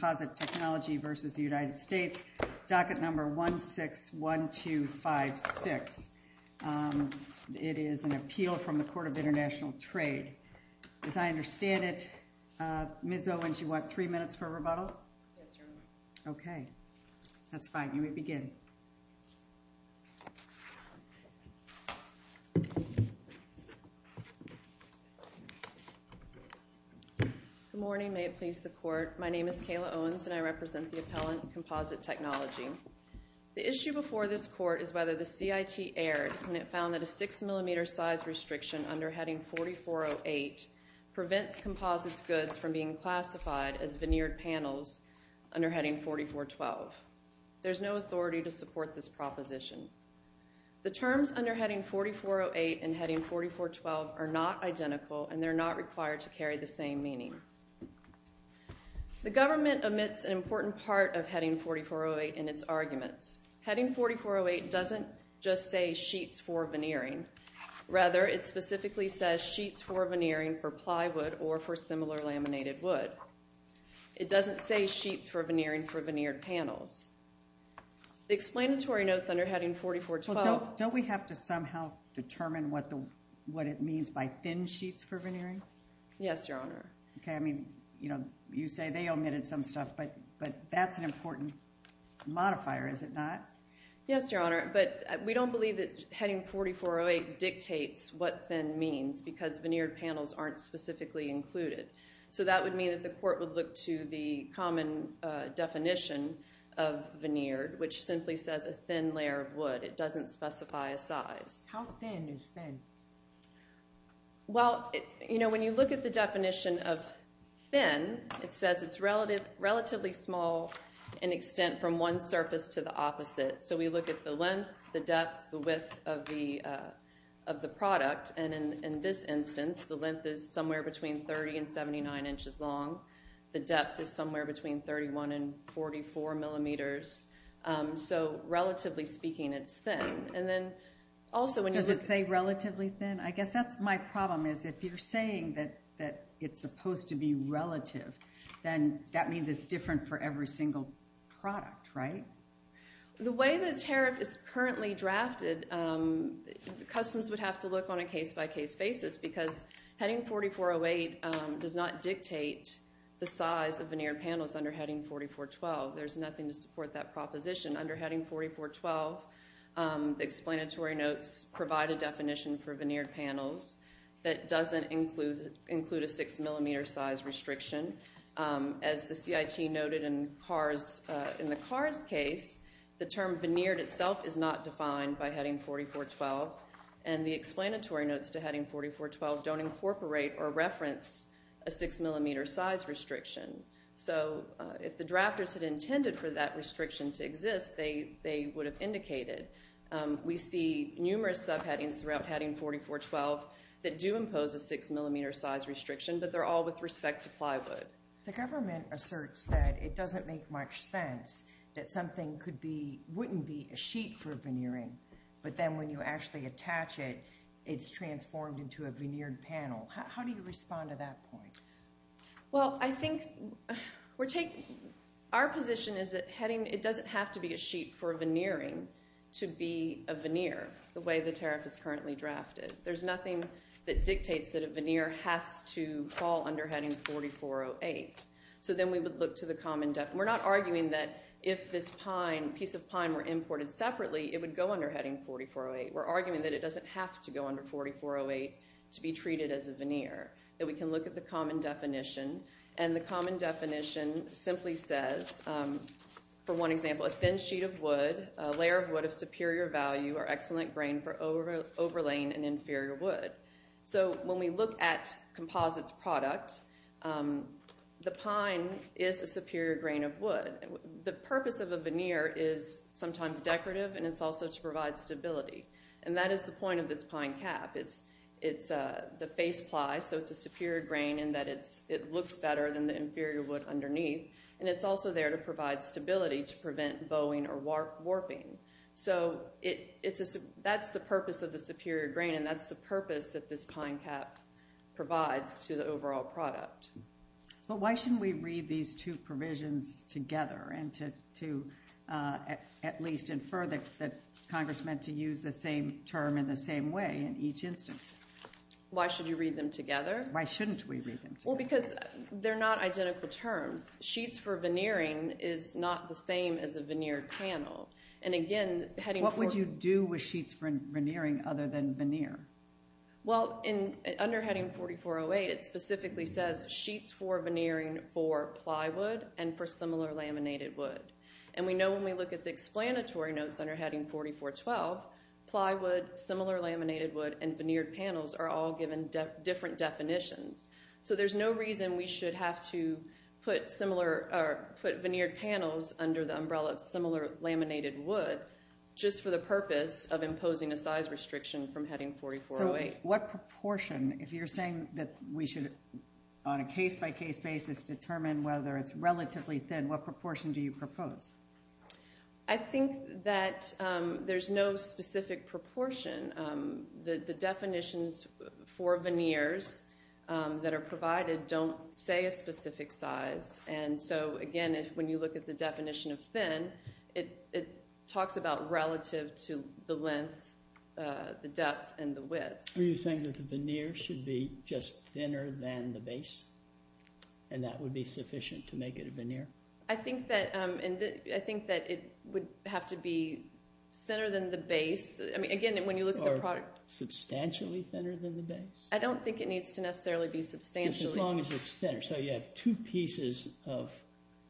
Docket No. 161256. It is an appeal from the Court of International Trade. As I understand it, Ms. Owens, you want three minutes for rebuttal? Yes, Your Honor. Okay. That's fine. You may begin. Good morning. May it please the Court, my name is Kayla Owens and I represent the appellant Composite Technology. The issue before this Court is whether the CIT erred when it found that a 6mm size restriction under Heading 4408 prevents composites goods from being classified as veneered panels under Heading 4412. There's no authority to support this proposition. The terms under Heading 4408 and Heading 4412 are not identical and they're not required to carry the same meaning. The government omits an important part of Heading 4408 in its arguments. Heading 4408 doesn't just say sheets for veneering. Rather, it specifically says sheets for veneering for plywood or for similar laminated wood. It doesn't say sheets for veneering for veneered panels. The explanatory notes under Heading 4412... Don't we have to somehow determine what it means by thin sheets for veneering? Yes, Your Honor. Okay. I mean, you say they omitted some stuff, but that's an important modifier, is it not? Yes, Your Honor. But we don't believe that Heading 4408 dictates what thin means because veneered panels aren't specifically included. So that would mean that the Court would look to the common definition of veneered, which simply says a thin layer of wood. It doesn't specify a size. How thin is thin? Well, you know, when you look at the one surface to the opposite. So we look at the length, the depth, the width of the product. And in this instance, the length is somewhere between 30 and 79 inches long. The depth is somewhere between 31 and 44 millimeters. So relatively speaking, it's thin. Does it say relatively thin? I guess that's my problem, is if you're saying that it's supposed to be relative, then that means it's different for every single product, right? The way the tariff is currently drafted, Customs would have to look on a case-by-case basis because Heading 4408 does not dictate the size of veneered panels under Heading 4412. There's nothing to support that proposition under Heading 4412. The explanatory notes provide a definition for veneered panels that doesn't include a 6-millimeter size restriction. As the CIT noted in the Kars case, the term veneered itself is not defined by Heading 4412, and the explanatory notes to Heading 4412 don't incorporate or reference a 6-millimeter size restriction. So if the drafters had intended for that restriction to exist, they would have indicated. We see numerous subheadings throughout Heading 4412 that do impose a 6-millimeter size restriction, but they're all with respect to plywood. The government asserts that it doesn't make much sense that something wouldn't be a sheet for veneering, but then when you actually attach it, it's transformed into a veneered panel. How do you respond to that point? Our position is that it doesn't have to be a sheet for veneering to be a veneer the way the tariff is currently drafted. There's nothing that dictates that a veneer has to fall under Heading 4408. So then we would look to the common definition. We're not arguing that if this piece of pine were imported separately, it would go under Heading 4408. We're arguing that it doesn't have to go under 4408 to be treated as a veneer, that we can look at the common definition, and the common definition simply says, for one example, a thin sheet of wood, a layer of wood of superior value or excellent grain for overlaying an inferior wood. So when we look at the purpose of a veneer is sometimes decorative, and it's also to provide stability. And that is the point of this pine cap. It's the face ply, so it's a superior grain in that it looks better than the inferior wood underneath, and it's also there to provide stability to prevent bowing or warping. So that's the purpose of the superior grain, and that's the purpose that this pine cap provides to the overall product. But why shouldn't we read these two provisions together and to at least infer that Congress meant to use the same term in the same way in each instance? Why should you read them together? Why shouldn't we read them together? Well, because they're not identical terms. Sheets for veneering is not the same as a veneered panel. What would you do with sheets for veneering other than veneer? Well, under Heading 4408, it specifically says sheets for veneering for plywood and for similar laminated wood. And we know when we look at the explanatory notes under Heading 4412, plywood, similar laminated wood, and veneered panels are all given different definitions. So there's no reason we should have to put veneered panels under the umbrella of similar laminated wood just for the purpose of imposing a size restriction from Heading 4408. So what proportion, if you're saying that we should, on a case-by-case basis, determine whether it's relatively thin, what proportion do you propose? I think that there's no specific proportion. The definitions for veneers that are provided don't say a specific size. And so, again, when you look at the definition of thin, it talks about relative to the length, the depth, and the width. Are you saying that the veneer should be just thinner than the base? And that would be sufficient to make it a veneer? I think that it would have to be thinner than the base. Again, when you look at the product... Substantially thinner than the base? I don't think it needs to necessarily be substantially. As long as it's thinner. So you have two pieces of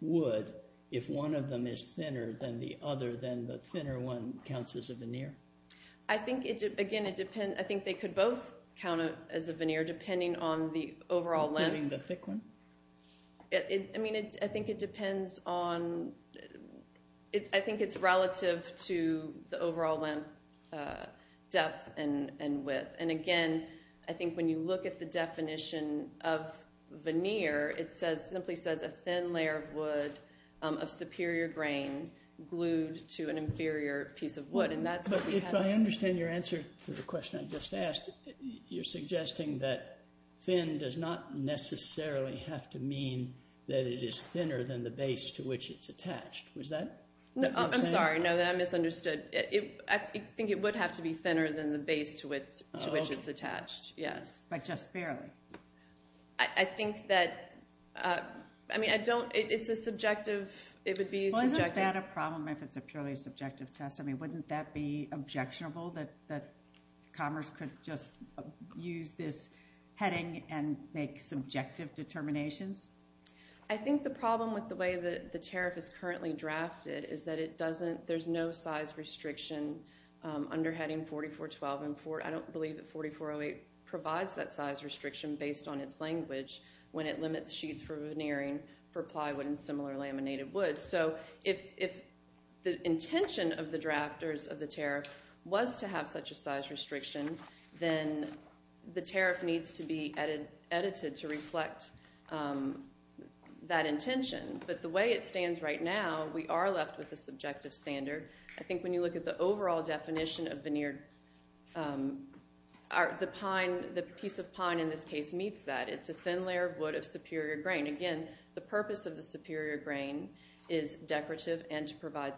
wood. If one of them is thinner than the other, then the thinner one counts as a veneer? I think, again, it depends. I think they could both count as a veneer, depending on the overall length. Including the thick one? I think it's relative to the overall length, depth, and width. And again, I think when you look at the definition of veneer, it simply says a thin layer of wood of superior grain glued to an inferior piece of wood. But if I understand your answer to the question I just asked, you're suggesting that thin does not necessarily have to mean that it is thinner than the base to which it's attached. I'm sorry, no, that I misunderstood. I think it would have to be thinner than the base to which it's attached. But just barely? I think that... I mean, I don't... it's a subjective... Well, isn't that a problem if it's a purely subjective test? I mean, wouldn't that be objectionable that commerce could just use this heading and make subjective determinations? I think the problem with the way the tariff is currently drafted is that it doesn't... there's no size restriction based on its language when it limits sheets for veneering for plywood and similar laminated wood. So if the intention of the drafters of the tariff was to have such a size restriction, then the tariff needs to be edited to reflect that intention. But the way it stands right now, we are left with a subjective standard. I think when you look at the overall definition of veneer, the piece of pine in this case meets that. It's a thin layer of wood of superior grain. Again, the purpose of the superior grain is decorative and to provide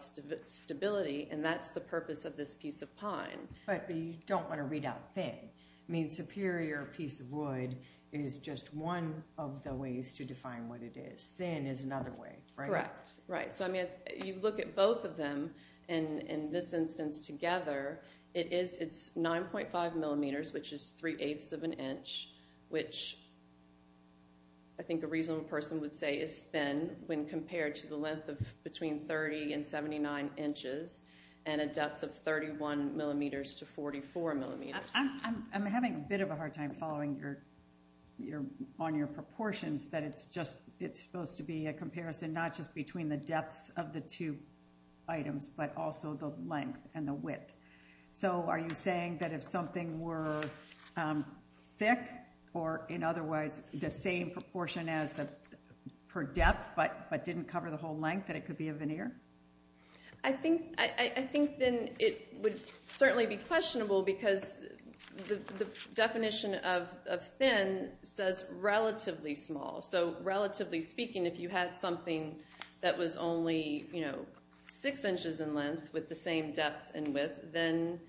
stability, and that's the purpose of this piece of pine. But you don't want to read out thin. I mean, superior piece of wood is just one of the ways to define what it is. Thin is another way, right? Correct. Right. So I mean, you look at both of them in this instance together, it's 9.5 millimeters, which is 3 eighths of an inch, which I think a reasonable person would say is thin when compared to the length of between 30 and 79 inches and a depth of 31 millimeters to 44 millimeters. I'm having a bit of a hard time following on your proportions, that it's supposed to be a comparison not just between the depths of the two items, but also the length and the width. So are you saying that if something were thick or in other words, the same proportion per depth, but didn't cover the whole length, that it could be a veneer? I think then it would certainly be questionable because the definition of thin says relatively small. So relatively speaking, if you had something that was only six inches in length with the same depth and width, then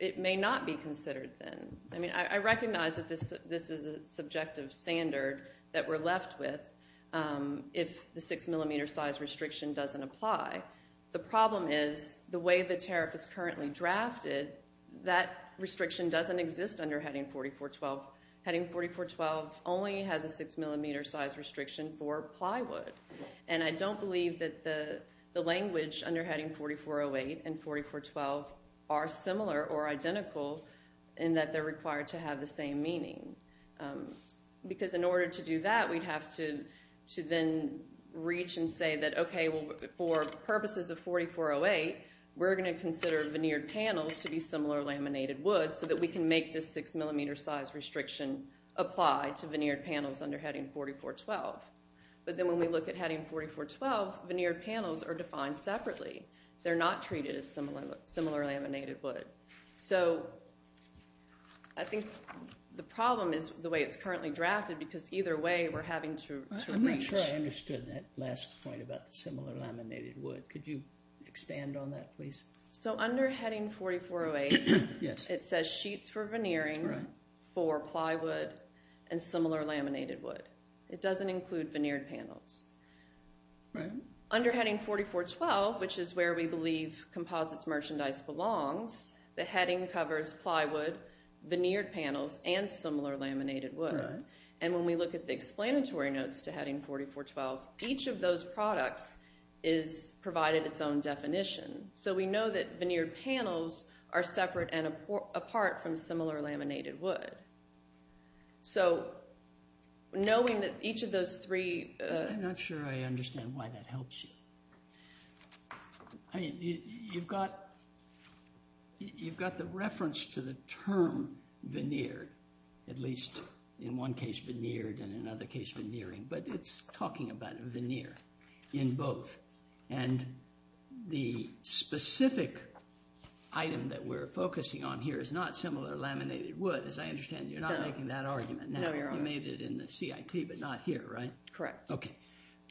it may not be considered thin. I mean, I recognize that this is a subjective standard that we're left with if the six millimeter size restriction doesn't apply. The problem is the way the tariff is currently drafted, that restriction doesn't exist under Heading 4412. Heading 4412 only has a six millimeter size restriction for plywood. And I don't believe that the language under Heading 4408 and 4412 are similar or identical in that they're required to have the same meaning. Because in order to do that, we'd have to then reach and say that okay, for purposes of 4408, we're going to consider veneered panels to be similar laminated wood so that we can make this six millimeter size restriction apply to veneered panels under Heading 4412. But then when we look at Heading 4412, veneered panels are defined separately. They're not treated as similar laminated wood. So I think the problem is the way it's currently drafted because either way we're having to reach. I'm not sure I understood that last point about similar laminated wood. Could you expand on that please? So under Heading 4408, it says sheets for veneering for plywood and similar laminated wood. It doesn't include veneered panels. Under Heading 4412, which is where we believe Composites Merchandise belongs, the heading covers plywood, veneered panels, and similar laminated wood. And when we look at the explanatory notes to Heading 4412, each of those products is provided its own definition. So we know that veneered panels are separate and apart from similar laminated wood. So knowing that each of those three... I'm not sure I understand why that helps you. You've got the reference to the term veneered, at least in one case veneered and in another case veneering, but it's talking about veneer in both. And the specific item that we're focusing on here is not similar laminated wood. As I understand, you're not making that argument. You made it in the CIT, but not here, right? Correct. Okay.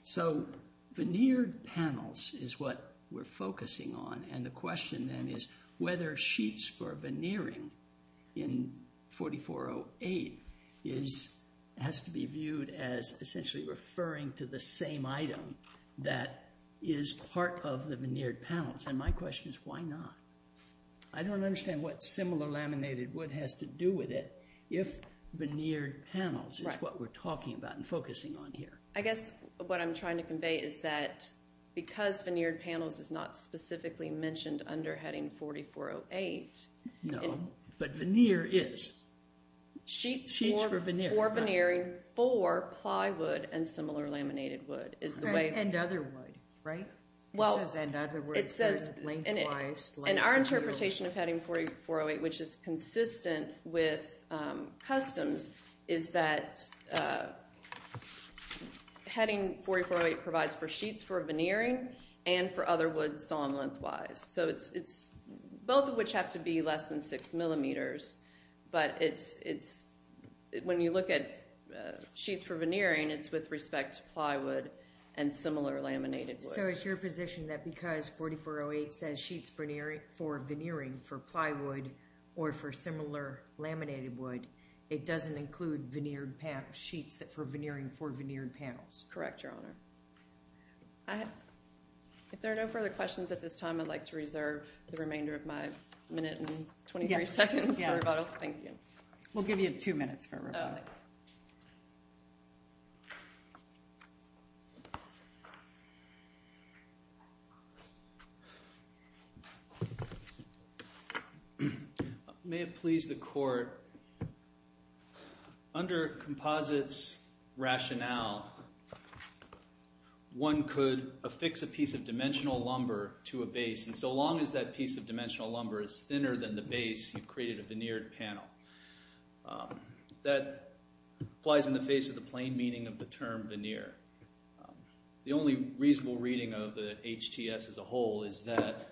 So veneered panels is what we're focusing on, and the question then is whether sheets for veneering in 4408 has to be viewed as essentially referring to the same item that is part of the veneered panels. And my question is, why not? I don't understand what similar laminated wood has to do with it if veneered panels is what we're talking about and focusing on here. I guess what I'm trying to convey is that because veneered panels is not specifically mentioned under Heading 4408... No, but veneer is. Sheets for veneering for plywood and similar laminated wood is the way... And other wood, right? It says and other wood, lengthwise... And our interpretation of Heading 4408, which is consistent with customs, is that Heading 4408 provides for sheets for veneering and for other wood sawn lengthwise. Both of which have to be less than 6 millimeters, but when you look at sheets for veneering, it's with respect to plywood and similar laminated wood. So it's your position that because 4408 says sheets for veneering for plywood or for similar laminated wood, it doesn't include veneered sheets for veneering for veneered panels? Correct, Your Honor. If there are no further questions at this time, I'd like to reserve the remainder of my minute and 23 seconds for rebuttal. Thank you. We'll give you two minutes for rebuttal. May it please the Court, under Composite's rationale one could affix a piece of dimensional lumber to a base, and so long as that piece of dimensional lumber is thinner than the base, you've created a veneered panel. That applies in the face of the plain meaning of the term veneer. The only reasonable reading of the HTS as a whole is that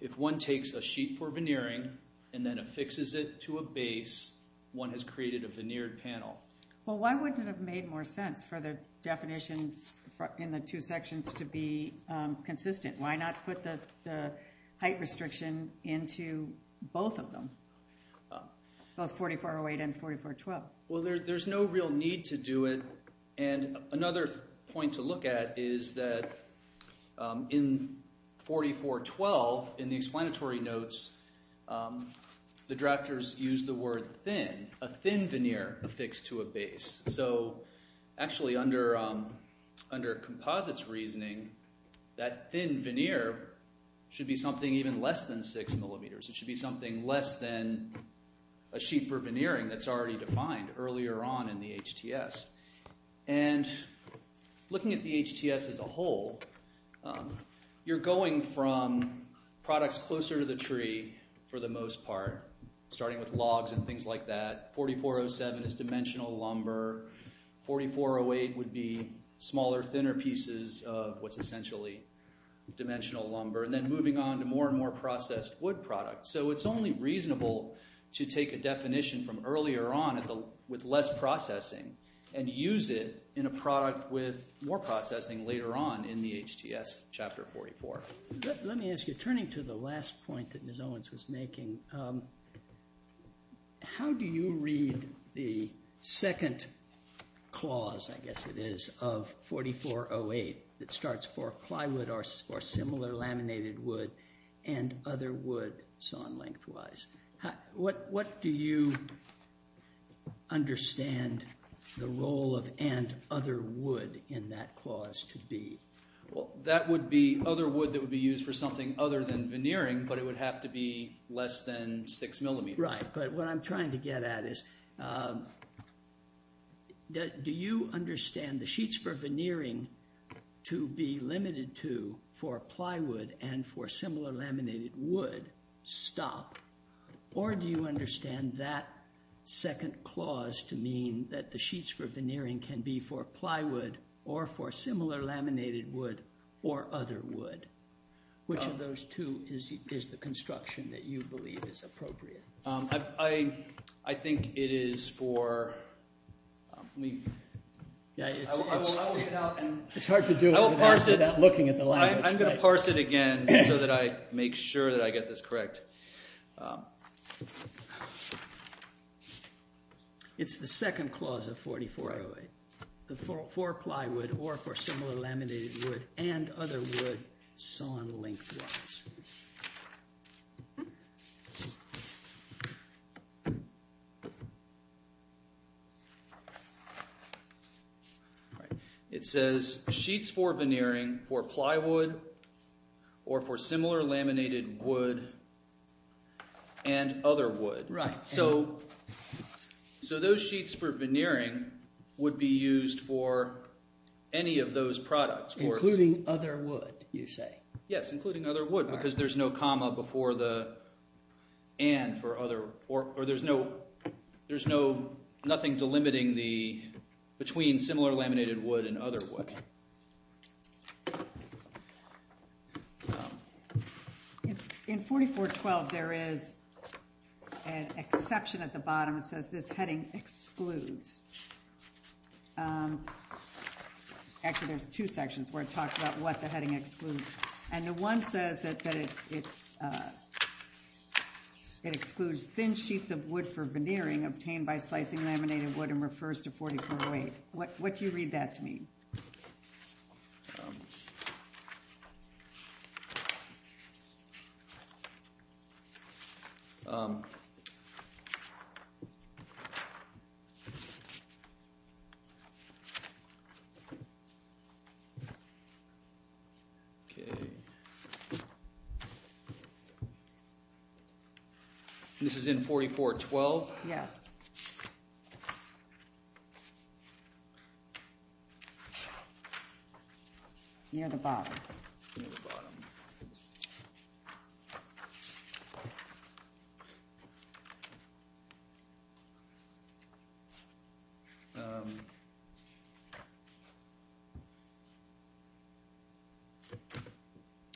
if one takes a sheet for veneering and then affixes it to a base, one has created a veneered panel. Well, why wouldn't it have made more sense for the definitions in the two sections to be consistent? Why not put the height restriction into both of them? Both 4408 and 4412? Well, there's no real need to do it, and another point to look at is that in 4412, in the explanatory notes, the drafters use the word thin. A thin veneer affixed to a base. Actually, under Composite's reasoning, that thin veneer should be something even less than 6 millimeters. It should be something less than a sheet for veneering that's already defined earlier on in the HTS. Looking at the HTS as a whole, you're going from products closer to the tree for the most part, starting with logs and things like that. 4407 is dimensional lumber. 4408 would be smaller, thinner pieces of what's essentially dimensional lumber, and then moving on to more and more processed wood products. It's only reasonable to take a definition from earlier on with less processing and use it in a product with more processing later on in the HTS chapter 44. Let me ask you, turning to the last point that Ms. Owens was making, how do you read the second clause, I guess it is, of 4408 that starts for plywood or similar laminated wood and other wood sawn lengthwise? What do you understand the role of and other wood in that clause to be? That would be other wood that would be used for something other than veneering, but it would have to be less than 6 millimeters. Right, but what I'm trying to get at is do you understand the sheets for veneering to be limited to for plywood and for similar laminated wood stop, or do you understand that second clause to mean that the sheets for veneering can be for plywood or for similar laminated wood or other wood? Which of those two is the construction that you believe is appropriate? I think it is for... I'm going to parse it again so that I make sure that I get this correct. It's the second clause of 4408. For plywood or for similar laminated wood and other wood sawn lengthwise. It says sheets for veneering for plywood or for similar laminated wood and other wood. Right. So those sheets for veneering would be used for any of those products. Including other wood, you say? Yes, including other wood because there's no comma before the and for other or there's no delimiting between similar laminated wood and other wood. In 4412 there is an exception at the bottom that says this heading excludes actually there's two sections where it talks about what the heading excludes and the one says that it excludes thin sheets of wood for veneering. This is in 4412. Yes. Near the bottom.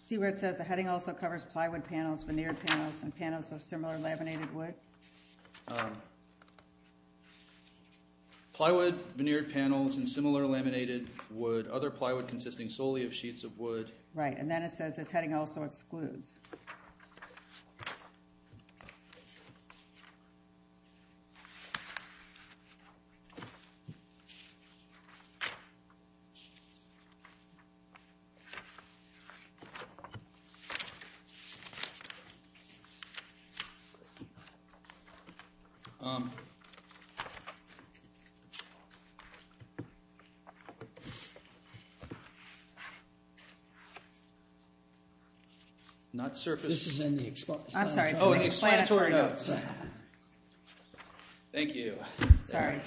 See where it says the heading also covers plywood panels, veneered panels, and panels of similar laminated wood? Plywood, veneered panels, and similar laminated wood. Other plywood consisting solely of sheets of wood. Right, and then it says this heading also excludes. Not surface. This is in the explanatory notes. Thank you. Sorry.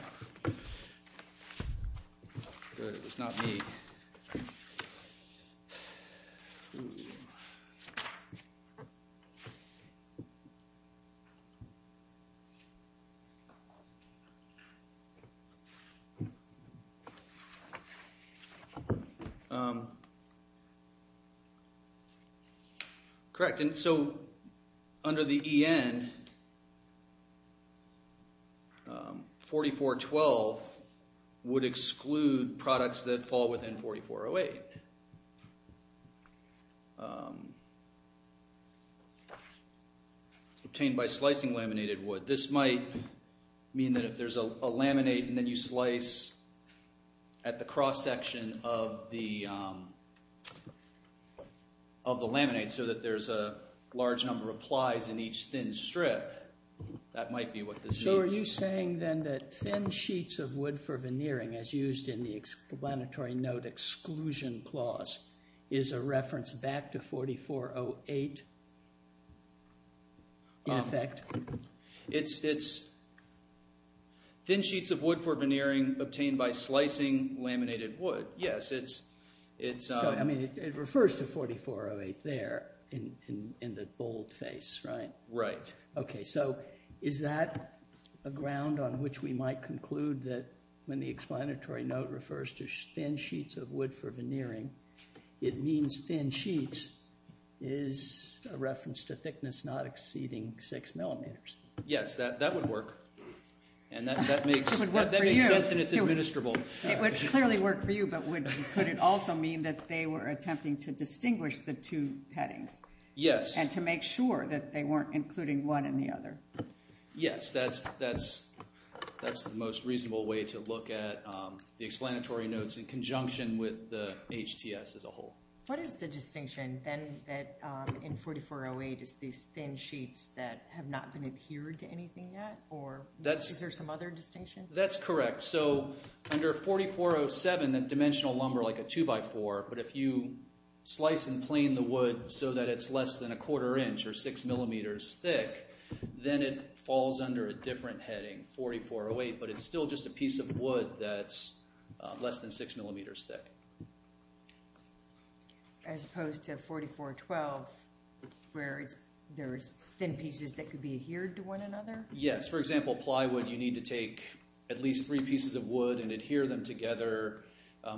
Good, it was not me. Correct, and so under the EN 4412 would exclude products that fall within 4408. Obtained by slicing laminated wood. This might mean that if there's a laminate and then you slice at the cross section of the laminate so that there's a large number of plies in each thin strip, that might be what this means. It's thin sheets of wood for veneering obtained by slicing laminated wood. It refers to 4408 there in the boldface, right? Is that a ground on which we might conclude that when the explanatory note refers to thin sheets of wood for veneering, it means thin sheets is a reference to thickness not exceeding 6 millimeters? Yes, that would work and that makes sense and it's administrable. It would clearly work for you, but would it also mean that they were attempting to distinguish the two headings? Yes. And to make sure that they weren't including one in the other? Yes, that's the most reasonable way to look at the explanatory notes in conjunction with the HTS as a whole. What is the distinction then that in 4408 is these thin sheets that have not been adhered to anything yet or is there some other distinction? That's correct. So under 4407, that dimensional lumber like a 2x4, but if you slice and plane the wood so that it's less than a quarter inch or 6 millimeters thick, then it falls under a different heading, 4408, but it's still just a piece of wood that's less than 6 millimeters thick. As opposed to 4412 where there's thin pieces that could be adhered to one another? Yes. For example, plywood, you need to take at least three pieces of wood and adhere them together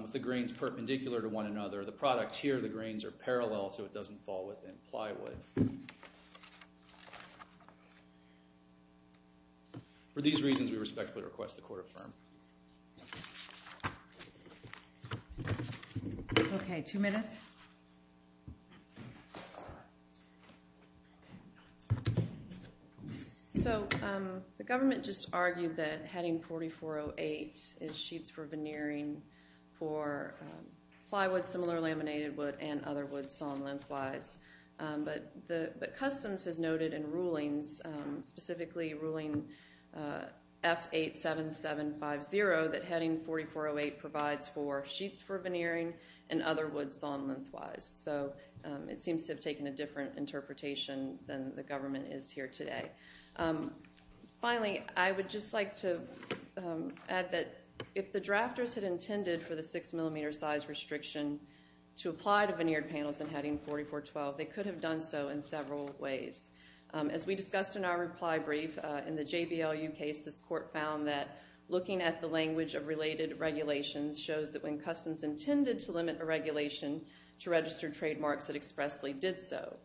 with the grains perpendicular to one another. The product here, the grains are parallel so it doesn't fall within plywood. For these reasons, we respectfully request the court affirm. Okay, two minutes. So the government just argued that heading 4408 is sheets for veneering for plywood, similar laminated wood, and other wood sawn lengthwise. But Customs has noted in rulings, specifically ruling F87750, that heading 4408 provides for sheets for veneering and other wood sawn lengthwise. So it seems to have taken a different interpretation than the government is here today. Finally, I would just like to add that if the drafters had intended for the 6 millimeter size restriction to apply to veneered panels and heading 4412, they could have done so in several ways. As we discussed in our reply brief, in the JBLU case, this court found that looking at the language of related regulations shows that when Customs intended to limit a regulation to register trademarks, it expressly did so.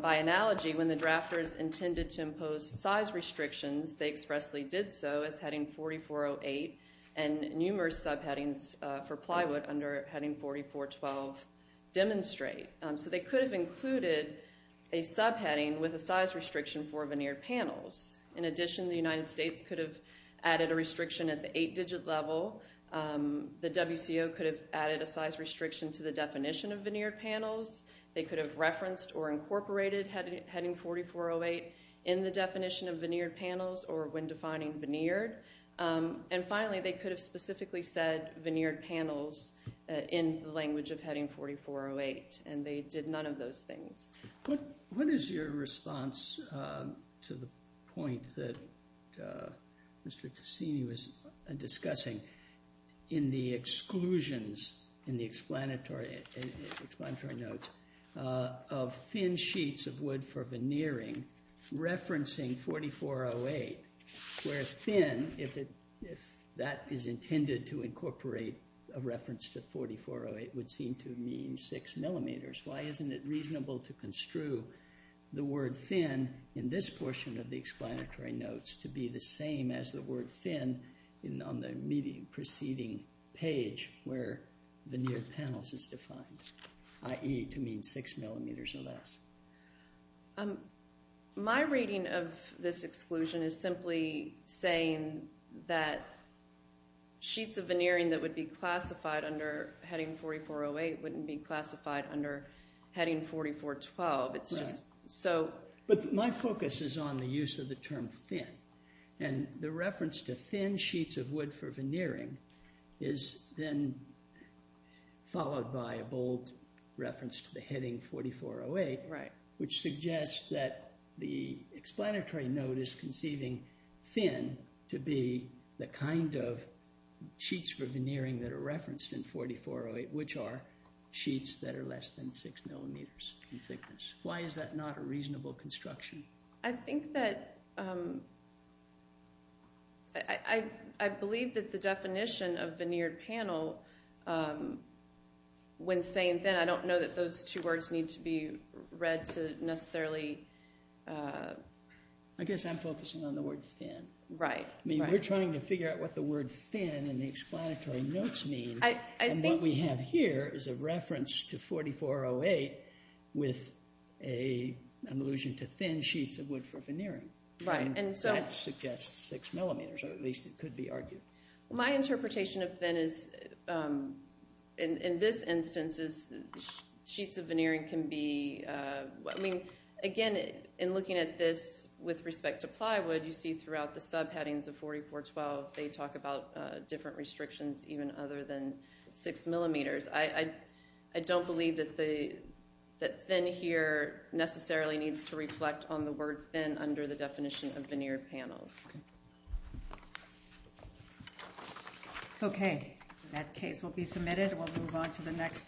By analogy, when the drafters intended to impose size restrictions, they expressly did so as heading 4408 and numerous subheadings for plywood under heading 4412 demonstrate. So they could have included a subheading with a size restriction for veneered panels. In addition, the United States could have added a restriction at the 8 digit level. The WCO could have added a size restriction to the definition of veneered panels. They could have referenced or incorporated heading 4408 in the definition of veneered panels or when defining veneered. And finally, they could have specifically said veneered panels in the language of heading 4408, and they did none of those things. What is your response to the point that Mr. Tassini was discussing in the exclusions in the explanatory notes of thin sheets of wood for veneering referencing 4408, where thin, if that is intended to construe the word thin in this portion of the explanatory notes to be the same as the word thin on the preceding page where veneered panels is defined, i.e. to mean 6 millimeters or less? My reading of this exclusion is simply saying that sheets of veneering that would be classified under heading 4408 wouldn't be classified under heading 4412. My focus is on the use of the term thin, and the reference to thin sheets of wood for veneering is then followed by a bold reference to the heading 4408, which suggests that the explanatory note is conceiving thin to be the kind of sheets for veneering that are referenced in 4408, which are sheets that are less than 6 millimeters in thickness. Why is that not a reasonable construction? I think that I believe that the definition of veneered panel, when saying thin, I don't know that those two words need to be read to necessarily I guess I'm focusing on the word thin. We're trying to figure out what the word thin in the explanatory notes means, and what we have here is a reference to 4408 with an allusion to thin sheets of wood for veneering. That suggests 6 millimeters, or at least it could be argued. My interpretation of thin is, in this instance, sheets of veneering can be, I mean, again, in looking at this with respect to plywood, you see throughout the subheadings of 4412 they talk about different restrictions even other than 6 millimeters. I don't believe that thin here necessarily needs to reflect on the word thin under the definition of veneered panels. Okay. That case will be submitted. We'll move on to the next.